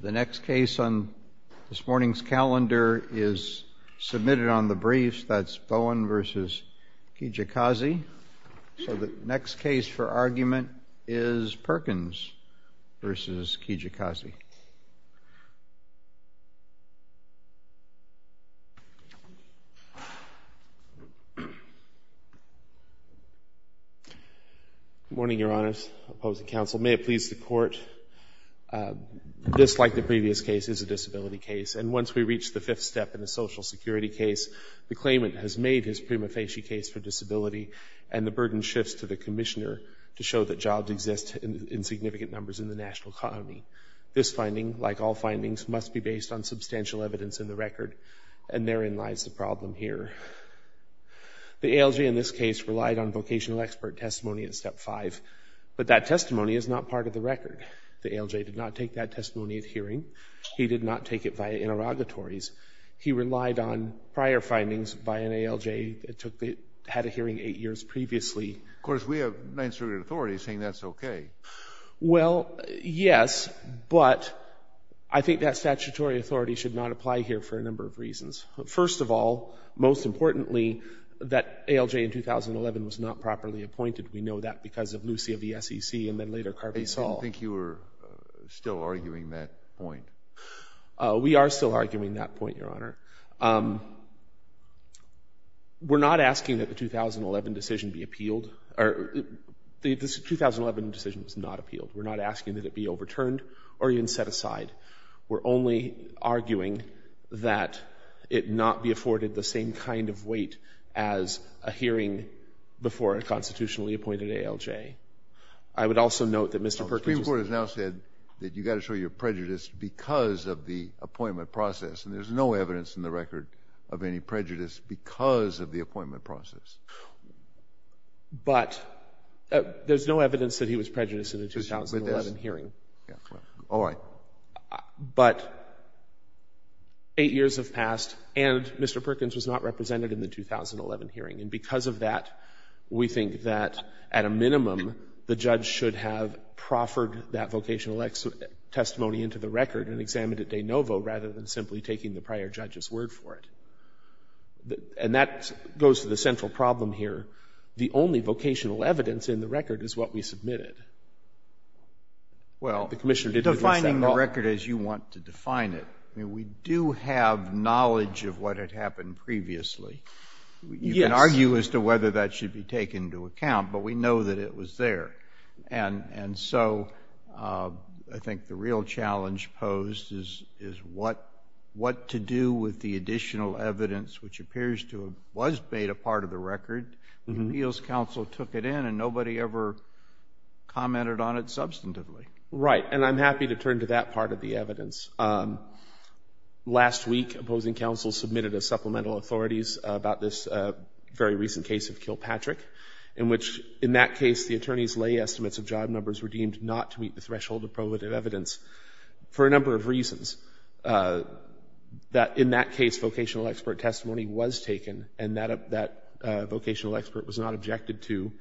The next case on this morning's calendar is submitted on the briefs. That's Bowen v. Kijakazi. So the next case for argument is Perkins v. Kijakazi. Good morning, your honors, opposing counsel. May it please the court, this, like the previous case, is a disability case. And once we reach the fifth step in the Social Security case, the claimant has made his prima facie case for disability, and the burden shifts to the commissioner to show that jobs exist in significant numbers in the national economy. This finding, like all findings, must be based on substantial evidence in the record, and therein lies the problem here. The ALJ in this case relied on vocational expert testimony at Step 5, but that testimony is not part of the record. The ALJ did not take that testimony at hearing. He did not take it via interrogatories. He relied on prior findings by an ALJ that took the, had a hearing eight years previously. Of course, we have non-executive authority saying that's okay. Well, yes, but I think that statutory authority should not apply here for a number of reasons. First of all, most importantly, that ALJ in 2011 was not properly appointed. We know that because of Lucia v. SEC and then later Carvey-Saw. I didn't think you were still arguing that point. We are still arguing that point, your honor. We're not asking that the 2011 decision be appealed. The 2011 decision was not appealed. We're not asking that it be overturned or even set aside. We're only arguing that it not be afforded the same kind of weight as a hearing before a constitutionally appointed ALJ. I would also note that Mr. Perkins has now said that you've got to show your prejudice because of the appointment process, and there's no evidence in the record of any prejudice because of the appointment process. But there's no evidence that he was prejudiced in the 2011 hearing. All right. But eight years have passed, and Mr. Perkins was not represented in the 2011 hearing. And because of that, we think that at a minimum the judge should have proffered that vocational testimony into the record and examined it de novo rather than simply taking the prior judge's word for it. And that goes to the central problem here. The only vocational evidence in the record is what we submitted. Well, defining the record as you want to define it, we do have knowledge of what had happened previously. Yes. You can argue as to whether that should be taken into account, but we know that it was there. And so I think the real challenge posed is what to do with the additional evidence, which appears to have was made a part of the record, when appeals counsel took it in and nobody ever commented on it substantively. Right. And I'm happy to turn to that part of the evidence. Last week, opposing counsel submitted a supplemental authorities about this very recent case of Kilpatrick, in which in that case the attorney's lay estimates of job numbers were deemed not to meet the threshold of probative evidence for a number of reasons. In that case, vocational expert testimony was taken, and that vocational expert was not objected to.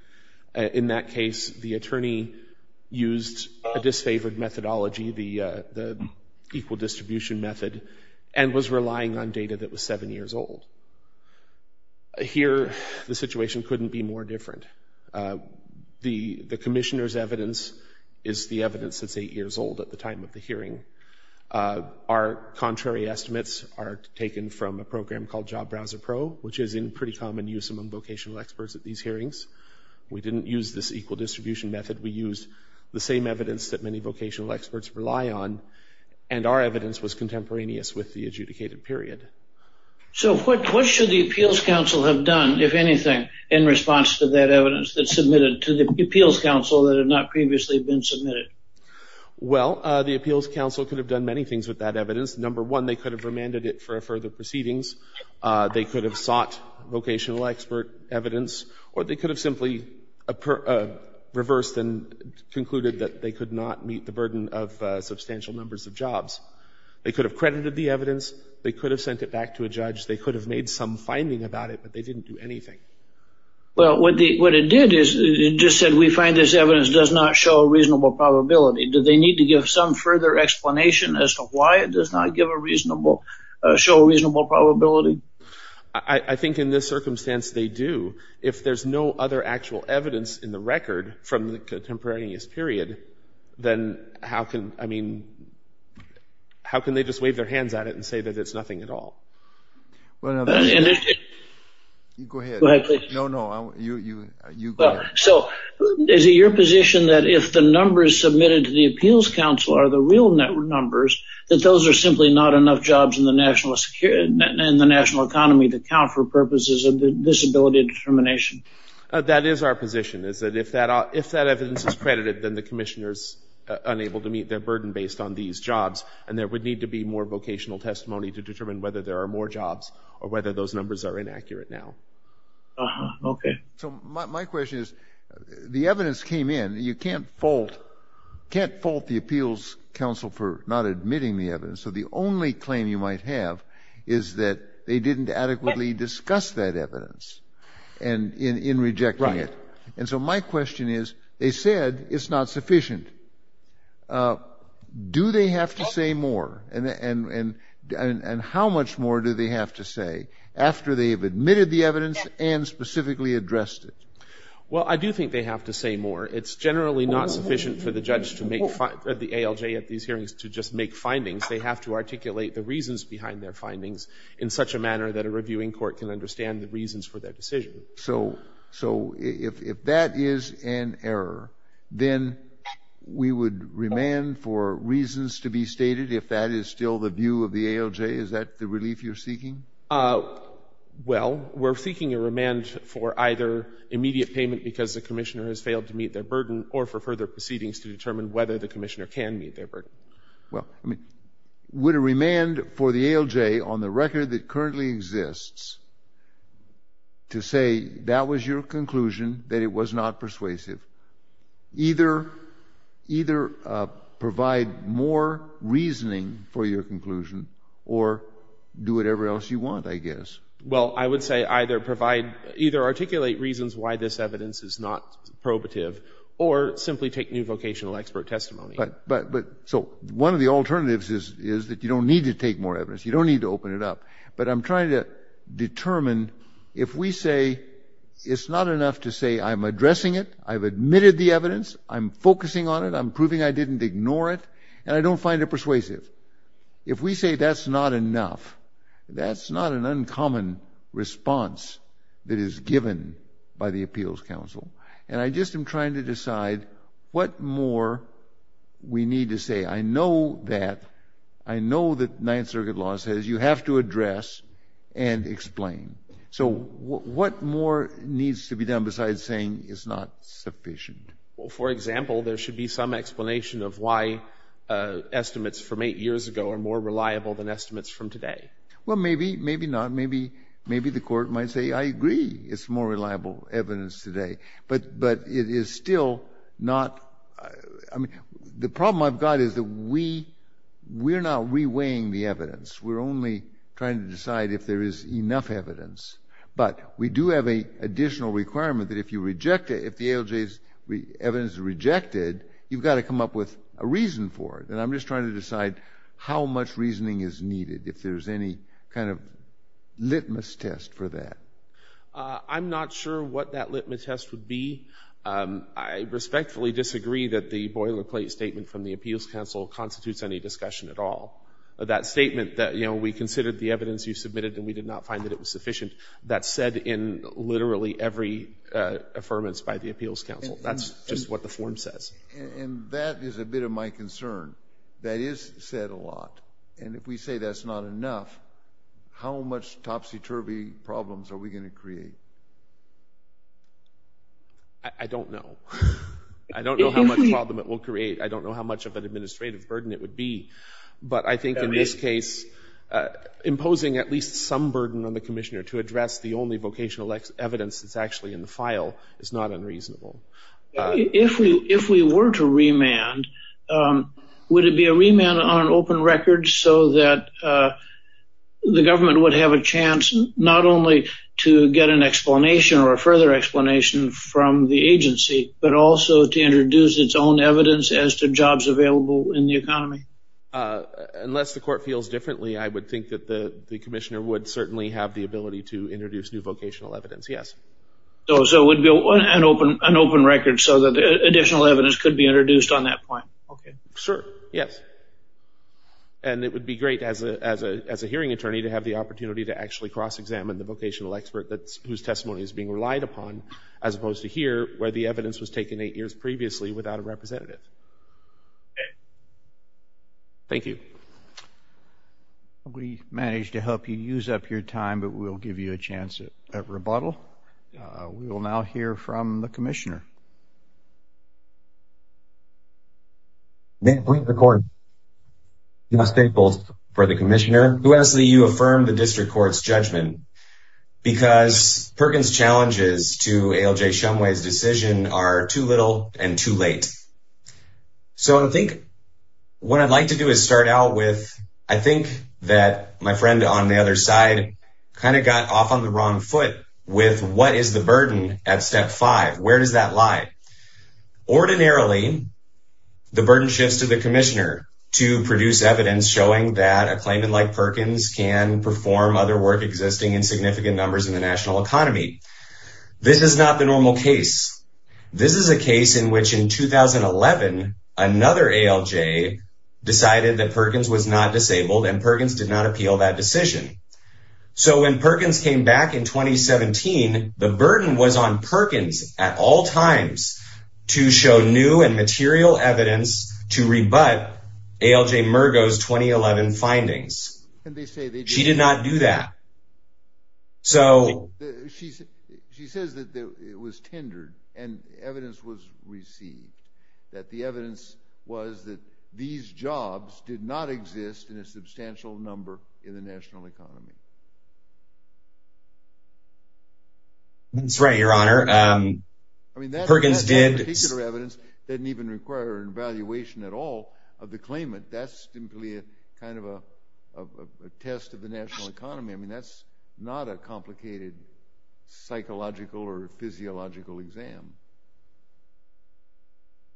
In that case, the attorney used a disfavored methodology, the equal distribution method, and was relying on data that was seven years old. Here, the situation couldn't be more different. The commissioner's evidence is the evidence that's eight years old at the time of the hearing. Our contrary estimates are taken from a program called Job Browser Pro, which is in pretty common use among vocational experts at these hearings. We didn't use this equal distribution method. We used the same evidence that many vocational experts rely on, and our evidence was contemporaneous with the adjudicated period. So what should the appeals counsel have done, if anything, in response to that evidence that's submitted to the appeals counsel that had not previously been submitted? Well, the appeals counsel could have done many things with that evidence. Number one, they could have remanded it for further proceedings. They could have sought vocational expert evidence, or they could have simply reversed and concluded that they could not meet the burden of substantial numbers of jobs. They could have credited the evidence. They could have sent it back to a judge. They could have made some finding about it, but they didn't do anything. Well, what it did is it just said we find this evidence does not show a reasonable probability. Do they need to give some further explanation as to why it does not show a reasonable probability? I think in this circumstance they do. If there's no other actual evidence in the record from the contemporaneous period, then how can they just wave their hands at it and say that it's nothing at all? Go ahead. Go ahead, please. No, no, you go ahead. So is it your position that if the numbers submitted to the appeals counsel are the real numbers, that those are simply not enough jobs in the national economy to count for purposes of disability determination? That is our position, is that if that evidence is credited then the commissioner is unable to meet their burden based on these jobs and there would need to be more vocational testimony to determine whether there are more jobs or whether those numbers are inaccurate now. Okay. So my question is the evidence came in. You can't fault the appeals counsel for not admitting the evidence, so the only claim you might have is that they didn't adequately discuss that evidence in rejecting it. Right. And so my question is they said it's not sufficient. Do they have to say more and how much more do they have to say after they have admitted the evidence and specifically addressed it? Well, I do think they have to say more. It's generally not sufficient for the judge to make, the ALJ at these hearings, to just make findings. They have to articulate the reasons behind their findings in such a manner that a reviewing court can understand the reasons for their decision. So if that is an error, then we would remand for reasons to be stated if that is still the view of the ALJ? Is that the relief you're seeking? Well, we're seeking a remand for either immediate payment because the commissioner has failed to meet their burden or for further proceedings to determine whether the commissioner can meet their burden. Well, I mean, would a remand for the ALJ on the record that currently exists to say that was your conclusion, that it was not persuasive, either provide more reasoning for your conclusion or do whatever else you want, I guess? Well, I would say either provide, either articulate reasons why this evidence is not probative or simply take new vocational expert testimony. But so one of the alternatives is that you don't need to take more evidence. You don't need to open it up. But I'm trying to determine if we say it's not enough to say I'm addressing it, I've admitted the evidence, I'm focusing on it, I'm proving I didn't ignore it, and I don't find it persuasive. If we say that's not enough, that's not an uncommon response that is given by the Appeals Council. And I just am trying to decide what more we need to say. I know that. I know that Ninth Circuit law says you have to address and explain. So what more needs to be done besides saying it's not sufficient? Well, for example, there should be some explanation of why estimates from eight years ago are more reliable than estimates from today. Well, maybe, maybe not. Maybe the court might say, I agree, it's more reliable evidence today. But it is still not the problem I've got is that we're not reweighing the evidence. We're only trying to decide if there is enough evidence. But we do have an additional requirement that if you reject it, if the ALJ's evidence is rejected, you've got to come up with a reason for it. And I'm just trying to decide how much reasoning is needed, if there's any kind of litmus test for that. I'm not sure what that litmus test would be. I respectfully disagree that the boilerplate statement from the Appeals Council constitutes any discussion at all. That statement that, you know, we considered the evidence you submitted and we did not find that it was sufficient, that's said in literally every affirmance by the Appeals Council. That's just what the form says. And that is a bit of my concern. That is said a lot. And if we say that's not enough, how much topsy-turvy problems are we going to create? I don't know. I don't know how much problem it will create. I don't know how much of an administrative burden it would be. But I think in this case, imposing at least some burden on the Commissioner to address the only vocational evidence that's actually in the file is not unreasonable. If we were to remand, would it be a remand on an open record so that the government would have a chance not only to get an explanation or a further explanation from the agency, but also to introduce its own evidence as to jobs available in the economy? Unless the Court feels differently, I would think that the Commissioner would certainly have the ability to introduce new vocational evidence, yes. So it would be an open record so that additional evidence could be introduced on that point. Okay. Sir? Yes. And it would be great as a hearing attorney to have the opportunity to actually cross-examine the vocational expert whose testimony is being relied upon, as opposed to here, where the evidence was taken eight years previously without a representative. Okay. Thank you. We managed to help you use up your time, but we'll give you a chance at rebuttal. We will now hear from the Commissioner. Who asked that you affirm the District Court's judgment? Because Perkins' challenges to ALJ Shumway's decision are too little and too late. So I think what I'd like to do is start out with, I think that my friend on the other side kind of got off on the wrong foot with, what is the burden at Step 5? Where does that lie? Ordinarily, the burden shifts to the Commissioner to produce evidence showing that a claimant like Perkins can perform other work existing in significant numbers in the national economy. This is not the normal case. This is a case in which, in 2011, another ALJ decided that Perkins was not disabled, and Perkins did not appeal that decision. So when Perkins came back in 2017, the burden was on Perkins at all times to show new and material evidence to rebut ALJ Mergo's 2011 findings. She did not do that. She says that it was tendered and evidence was received, that the evidence was that these jobs did not exist in a substantial number in the national economy. That's right, Your Honor. I mean, that particular evidence didn't even require an evaluation at all of the claimant. That's simply kind of a test of the national economy. I mean, that's not a complicated psychological or physiological exam.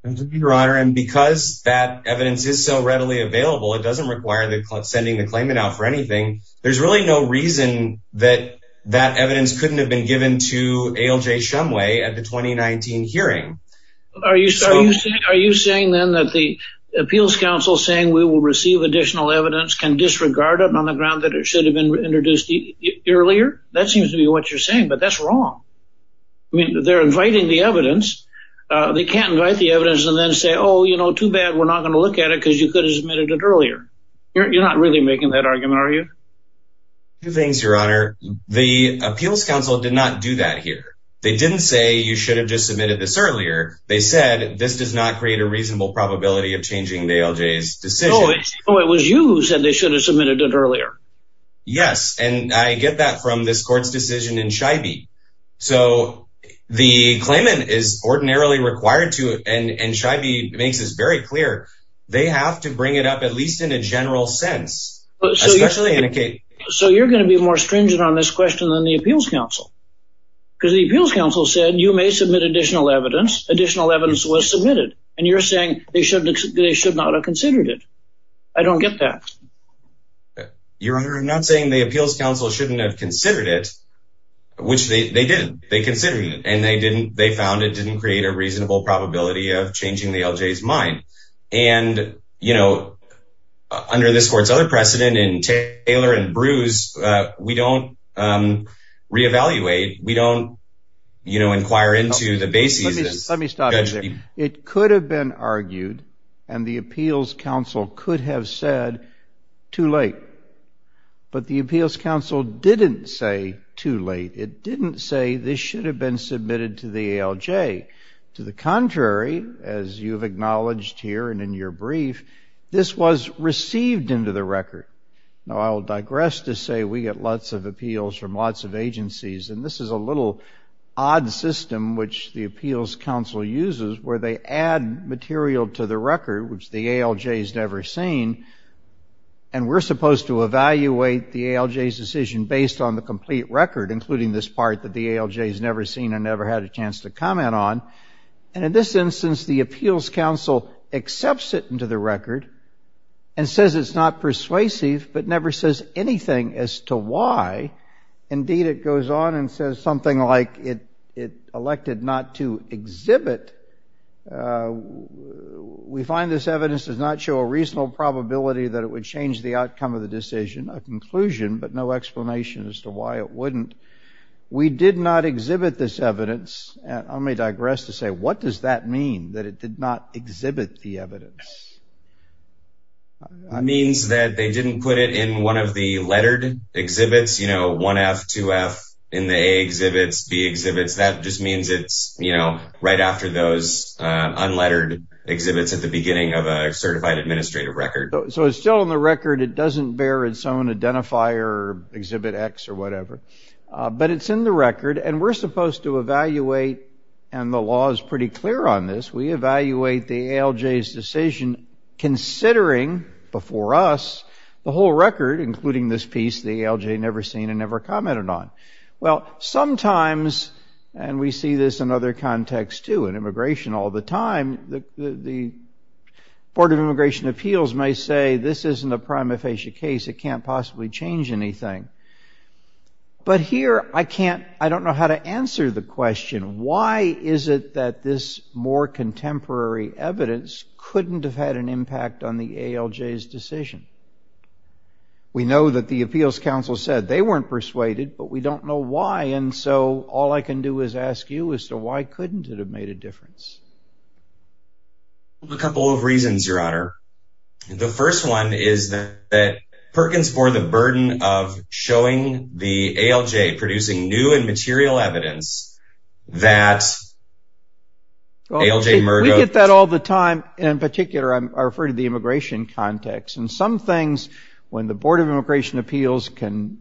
Your Honor, and because that evidence is so readily available, it doesn't require sending the claimant out for anything, there's really no reason that that evidence couldn't have been given to ALJ Shumway at the 2019 hearing. Are you saying then that the Appeals Council saying we will receive additional evidence can disregard it on the ground that it should have been introduced earlier? That seems to be what you're saying, but that's wrong. I mean, they're inviting the evidence. They can't invite the evidence and then say, oh, you know, too bad, we're not going to look at it because you could have submitted it earlier. You're not really making that argument, are you? Two things, Your Honor. The Appeals Council did not do that here. They didn't say you should have just submitted this earlier. They said this does not create a reasonable probability of changing ALJ's decision. No, it was you who said they should have submitted it earlier. Yes, and I get that from this court's decision in Scheibe. So the claimant is ordinarily required to, and Scheibe makes this very clear, they have to bring it up at least in a general sense, especially in a case. So you're going to be more stringent on this question than the Appeals Council because the Appeals Council said you may submit additional evidence. Additional evidence was submitted, and you're saying they should not have considered it. I don't get that. Your Honor, I'm not saying the Appeals Council shouldn't have considered it, which they did. They considered it, and they found it didn't create a reasonable probability of changing the ALJ's mind. And, you know, under this court's other precedent in Taylor and Brews, we don't reevaluate, we don't, you know, inquire into the bases. Let me stop you there. It could have been argued, and the Appeals Council could have said too late. But the Appeals Council didn't say too late. It didn't say this should have been submitted to the ALJ. To the contrary, as you have acknowledged here and in your brief, this was received into the record. Now, I'll digress to say we get lots of appeals from lots of agencies, and this is a little odd system which the Appeals Council uses, where they add material to the record, which the ALJ's never seen, and we're supposed to evaluate the ALJ's decision based on the complete record, including this part that the ALJ's never seen and never had a chance to comment on. And in this instance, the Appeals Council accepts it into the record and says it's not persuasive, but never says anything as to why. Indeed, it goes on and says something like it elected not to exhibit. We find this evidence does not show a reasonable probability that it would change the outcome of the decision, a conclusion, but no explanation as to why it wouldn't. We did not exhibit this evidence. And let me digress to say what does that mean, that it did not exhibit the evidence? It means that they didn't put it in one of the lettered exhibits, you know, 1F, 2F, in the A exhibits, B exhibits, that just means it's, you know, right after those unlettered exhibits at the beginning of a certified administrative record. So it's still in the record, it doesn't bear its own identifier, exhibit X or whatever, but it's in the record, and we're supposed to evaluate, and the law is pretty clear on this, we evaluate the ALJ's decision considering before us the whole record, including this piece the ALJ never seen and never commented on. Well, sometimes, and we see this in other contexts too, in immigration all the time, the Board of Immigration Appeals may say this isn't a prima facie case, it can't possibly change anything. But here I can't, I don't know how to answer the question. Why is it that this more contemporary evidence couldn't have had an impact on the ALJ's decision? We know that the Appeals Council said they weren't persuaded, but we don't know why, and so all I can do is ask you as to why couldn't it have made a difference? A couple of reasons, Your Honor. The first one is that Perkins bore the burden of showing the ALJ producing new and material evidence that ALJ murder... Well, we get that all the time, and in particular I refer to the immigration context, and some things when the Board of Immigration Appeals can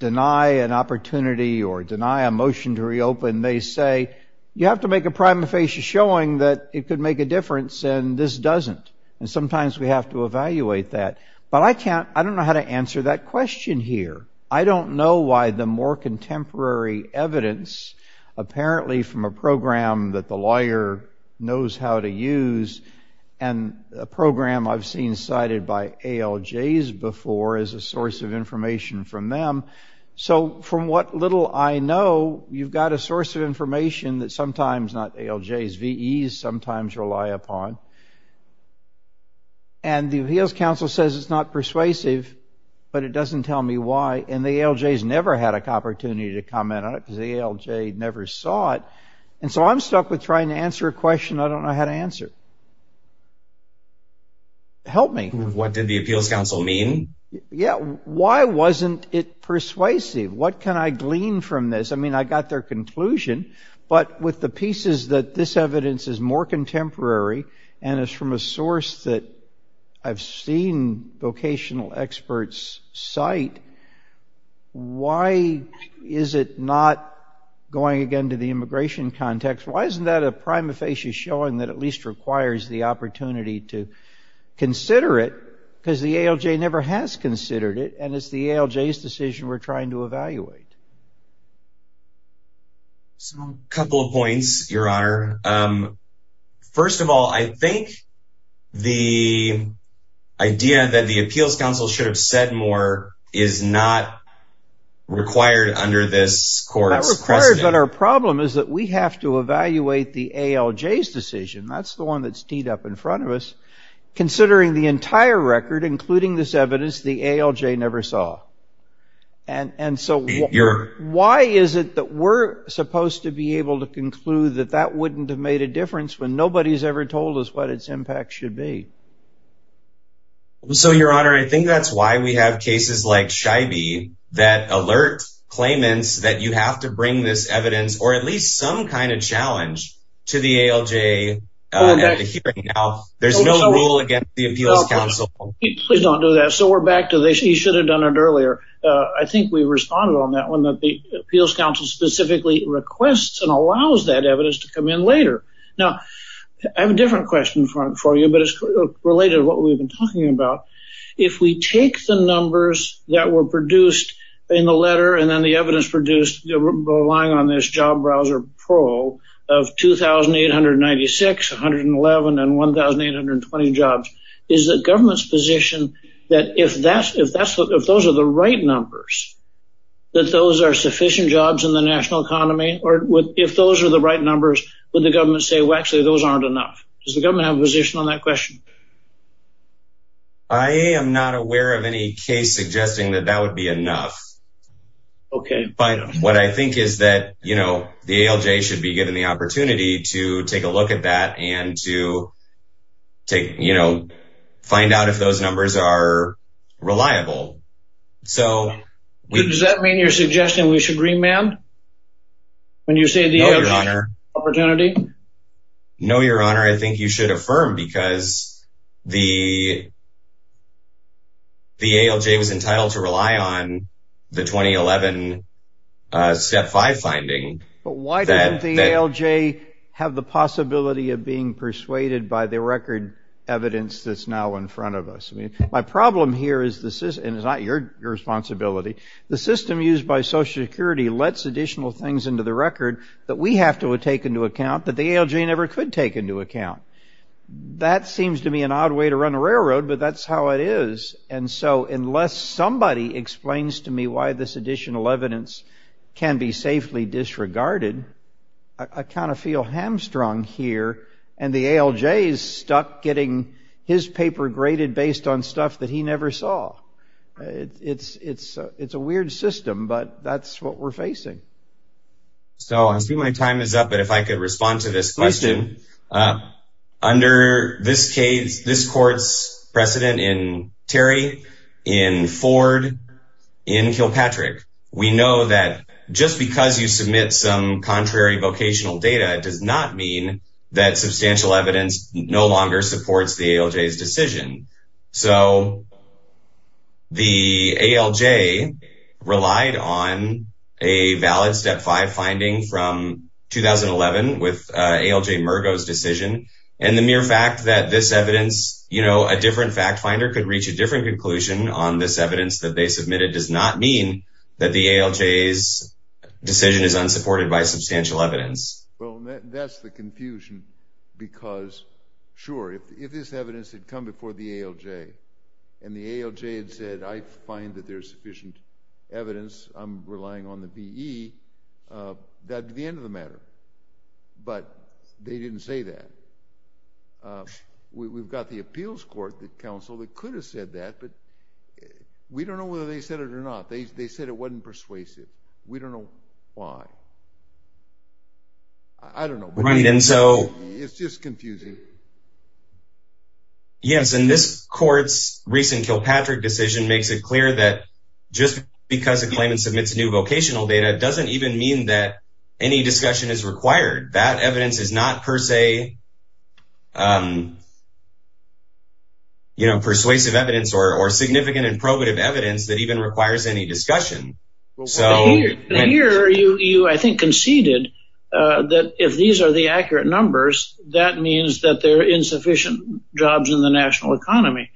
deny an opportunity or deny a motion to reopen, they say you have to make a prima facie showing that it could make a difference and this doesn't, and sometimes we have to evaluate that. But I can't, I don't know how to answer that question here. I don't know why the more contemporary evidence, apparently from a program that the lawyer knows how to use, and a program I've seen cited by ALJs before as a source of information from them. So from what little I know, you've got a source of information that sometimes, not ALJs, VEs sometimes rely upon, and the Appeals Council says it's not persuasive, but it doesn't tell me why, and the ALJs never had an opportunity to comment on it because the ALJ never saw it, and so I'm stuck with trying to answer a question I don't know how to answer. Help me. What did the Appeals Council mean? Yeah, why wasn't it persuasive? What can I glean from this? I mean, I got their conclusion, but with the pieces that this evidence is more contemporary and is from a source that I've seen vocational experts cite, why is it not going again to the immigration context? Why isn't that a prima facie showing that at least requires the opportunity to consider it A couple of points, Your Honor. First of all, I think the idea that the Appeals Council should have said more is not required under this court's precedent. It's not required, but our problem is that we have to evaluate the ALJ's decision. That's the one that's teed up in front of us. Considering the entire record, including this evidence, the ALJ never saw. And so why is it that we're supposed to be able to conclude that that wouldn't have made a difference when nobody's ever told us what its impact should be? So, Your Honor, I think that's why we have cases like Scheibe that alert claimants that you have to bring this evidence or at least some kind of challenge to the ALJ at the hearing. There's no rule against the Appeals Council. Please don't do that. So we're back to this. You should have done it earlier. I think we responded on that one that the Appeals Council specifically requests and allows that evidence to come in later. Now, I have a different question for you, but it's related to what we've been talking about. If we take the numbers that were produced in the letter and then the evidence produced relying on this Job Browser Pro of 2,896, 111, and 1,820 jobs, is the government's position that if those are the right numbers, that those are sufficient jobs in the national economy? Or if those are the right numbers, would the government say, well, actually, those aren't enough? Does the government have a position on that question? I am not aware of any case suggesting that that would be enough. Okay. But what I think is that, you know, the ALJ should be given the opportunity to take a look at that and to, you know, find out if those numbers are reliable. Does that mean your suggestion we should remand when you say the opportunity? No, Your Honor. No, Your Honor. I think you should affirm because the ALJ was entitled to rely on the 2011 Step 5 finding. But why didn't the ALJ have the possibility of being persuaded by the record evidence that's now in front of us? I mean, my problem here is the system, and it's not your responsibility, the system used by Social Security lets additional things into the record that we have to take into account that the ALJ never could take into account. That seems to me an odd way to run a railroad, but that's how it is. And so unless somebody explains to me why this additional evidence can be safely disregarded, I kind of feel hamstrung here, and the ALJ is stuck getting his paper graded based on stuff that he never saw. It's a weird system, but that's what we're facing. So I see my time is up, but if I could respond to this question. Please do. Under this court's precedent in Terry, in Ford, in Kilpatrick, we know that just because you submit some contrary vocational data does not mean that substantial evidence no longer supports the ALJ's decision. So the ALJ relied on a valid Step 5 finding from 2011 with ALJ Mergo's decision, and the mere fact that this evidence, you know, a different fact finder could reach a different conclusion on this evidence that they submitted does not mean that the ALJ's decision is unsupported by substantial evidence. Well, that's the confusion because, sure, if this evidence had come before the ALJ and the ALJ had said, I find that there's sufficient evidence, I'm relying on the BE, that would be the end of the matter. But they didn't say that. We've got the appeals court, the council, that could have said that, but we don't know whether they said it or not. They said it wasn't persuasive. We don't know why. I don't know. It's just confusing. Yes, and this court's recent Kilpatrick decision makes it clear that just because a claimant submits new vocational data doesn't even mean that any discussion is required. That evidence is not per se, you know, persuasive evidence or significant and probative evidence that even requires any discussion. Here you, I think, conceded that if these are the accurate numbers, that means that there are insufficient jobs in the national economy.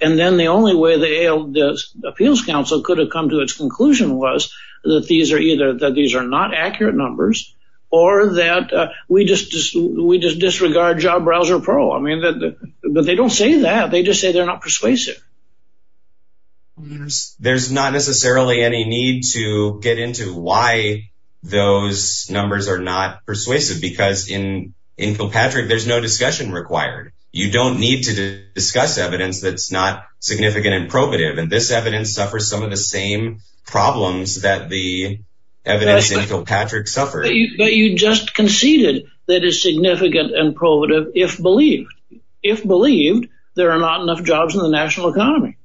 And then the only way the appeals council could have come to its conclusion was that these are either not accurate numbers or that we just disregard Job Browser Pro. I mean, but they don't say that. They just say they're not persuasive. There's not necessarily any need to get into why those numbers are not persuasive because in Kilpatrick there's no discussion required. You don't need to discuss evidence that's not significant and probative, and this evidence suffers some of the same problems that the evidence in Kilpatrick suffered. But you just conceded that it's significant and probative if believed. If believed, there are not enough jobs in the national economy.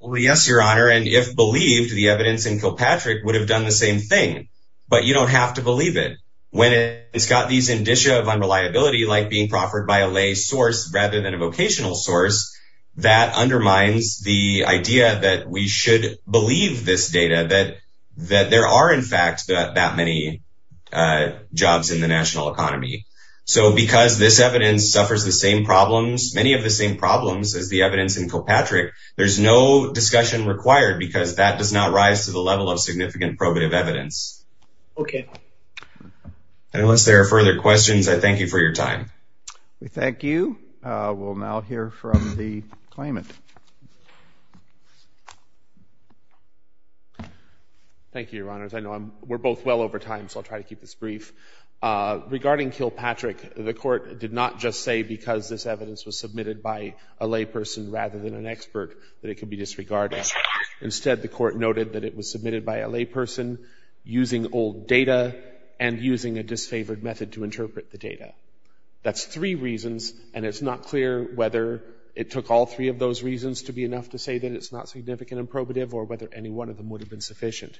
Well, yes, Your Honor, and if believed, the evidence in Kilpatrick would have done the same thing. But you don't have to believe it. When it's got these indicia of unreliability like being proffered by a lay source rather than a vocational source, that undermines the idea that we should believe this data, that there are, in fact, that many jobs in the national economy. So because this evidence suffers the same problems, many of the same problems as the evidence in Kilpatrick, there's no discussion required because that does not rise to the level of significant probative evidence. Okay. And unless there are further questions, I thank you for your time. We thank you. We'll now hear from the claimant. Thank you, Your Honors. I know we're both well over time, so I'll try to keep this brief. Regarding Kilpatrick, the Court did not just say because this evidence was submitted by a lay person rather than an expert that it could be disregarded. Instead, the Court noted that it was submitted by a lay person using old data and using a disfavored method to interpret the data. That's three reasons, and it's not clear whether it took all three of those reasons to be enough to say that it's not significant and probative or whether any one of them would have been sufficient.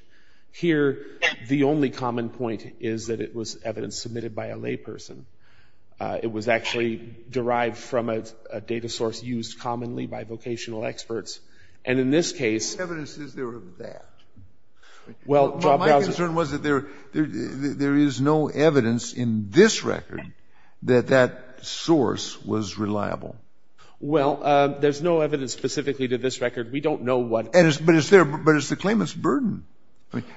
Here, the only common point is that it was evidence submitted by a lay person. It was actually derived from a data source used commonly by vocational experts. And in this case — What evidence is there of that? Well, my concern was that there is no evidence in this record. That that source was reliable. Well, there's no evidence specifically to this record. We don't know what — But it's there, but it's the claimant's burden.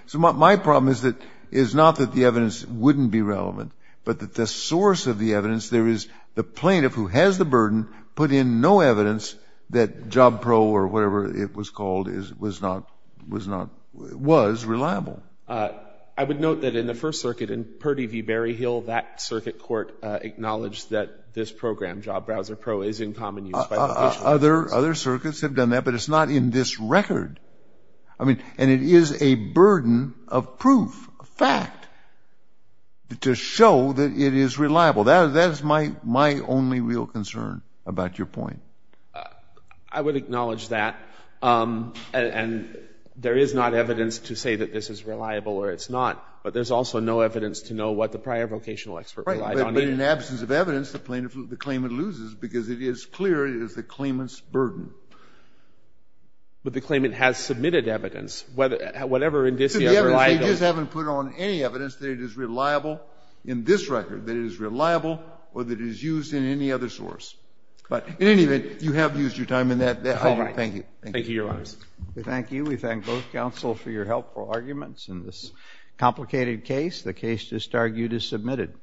So my problem is not that the evidence wouldn't be relevant, but that the source of the evidence, there is the plaintiff who has the burden put in no evidence that Job Pro or whatever it was called was not — was not — was reliable. I would note that in the First Circuit in Purdy v. Berryhill, that circuit court acknowledged that this program, Job Browser Pro, is in common use by vocational experts. Other circuits have done that, but it's not in this record. I mean, and it is a burden of proof, a fact, to show that it is reliable. That is my only real concern about your point. I would acknowledge that. And there is not evidence to say that this is reliable or it's not. But there's also no evidence to know what the prior vocational expert relied on in it. Right. But in absence of evidence, the plaintiff, the claimant loses, because it is clear it is the claimant's burden. But the claimant has submitted evidence, whatever indicia are reliable. So the evidence they just haven't put on any evidence that it is reliable in this record, that it is reliable or that it is used in any other source. But in any event, you have used your time in that. All right. Thank you. Thank you, Your Honors. We thank you. We thank both counsel for your helpful arguments in this complicated case. The case just argued is submitted.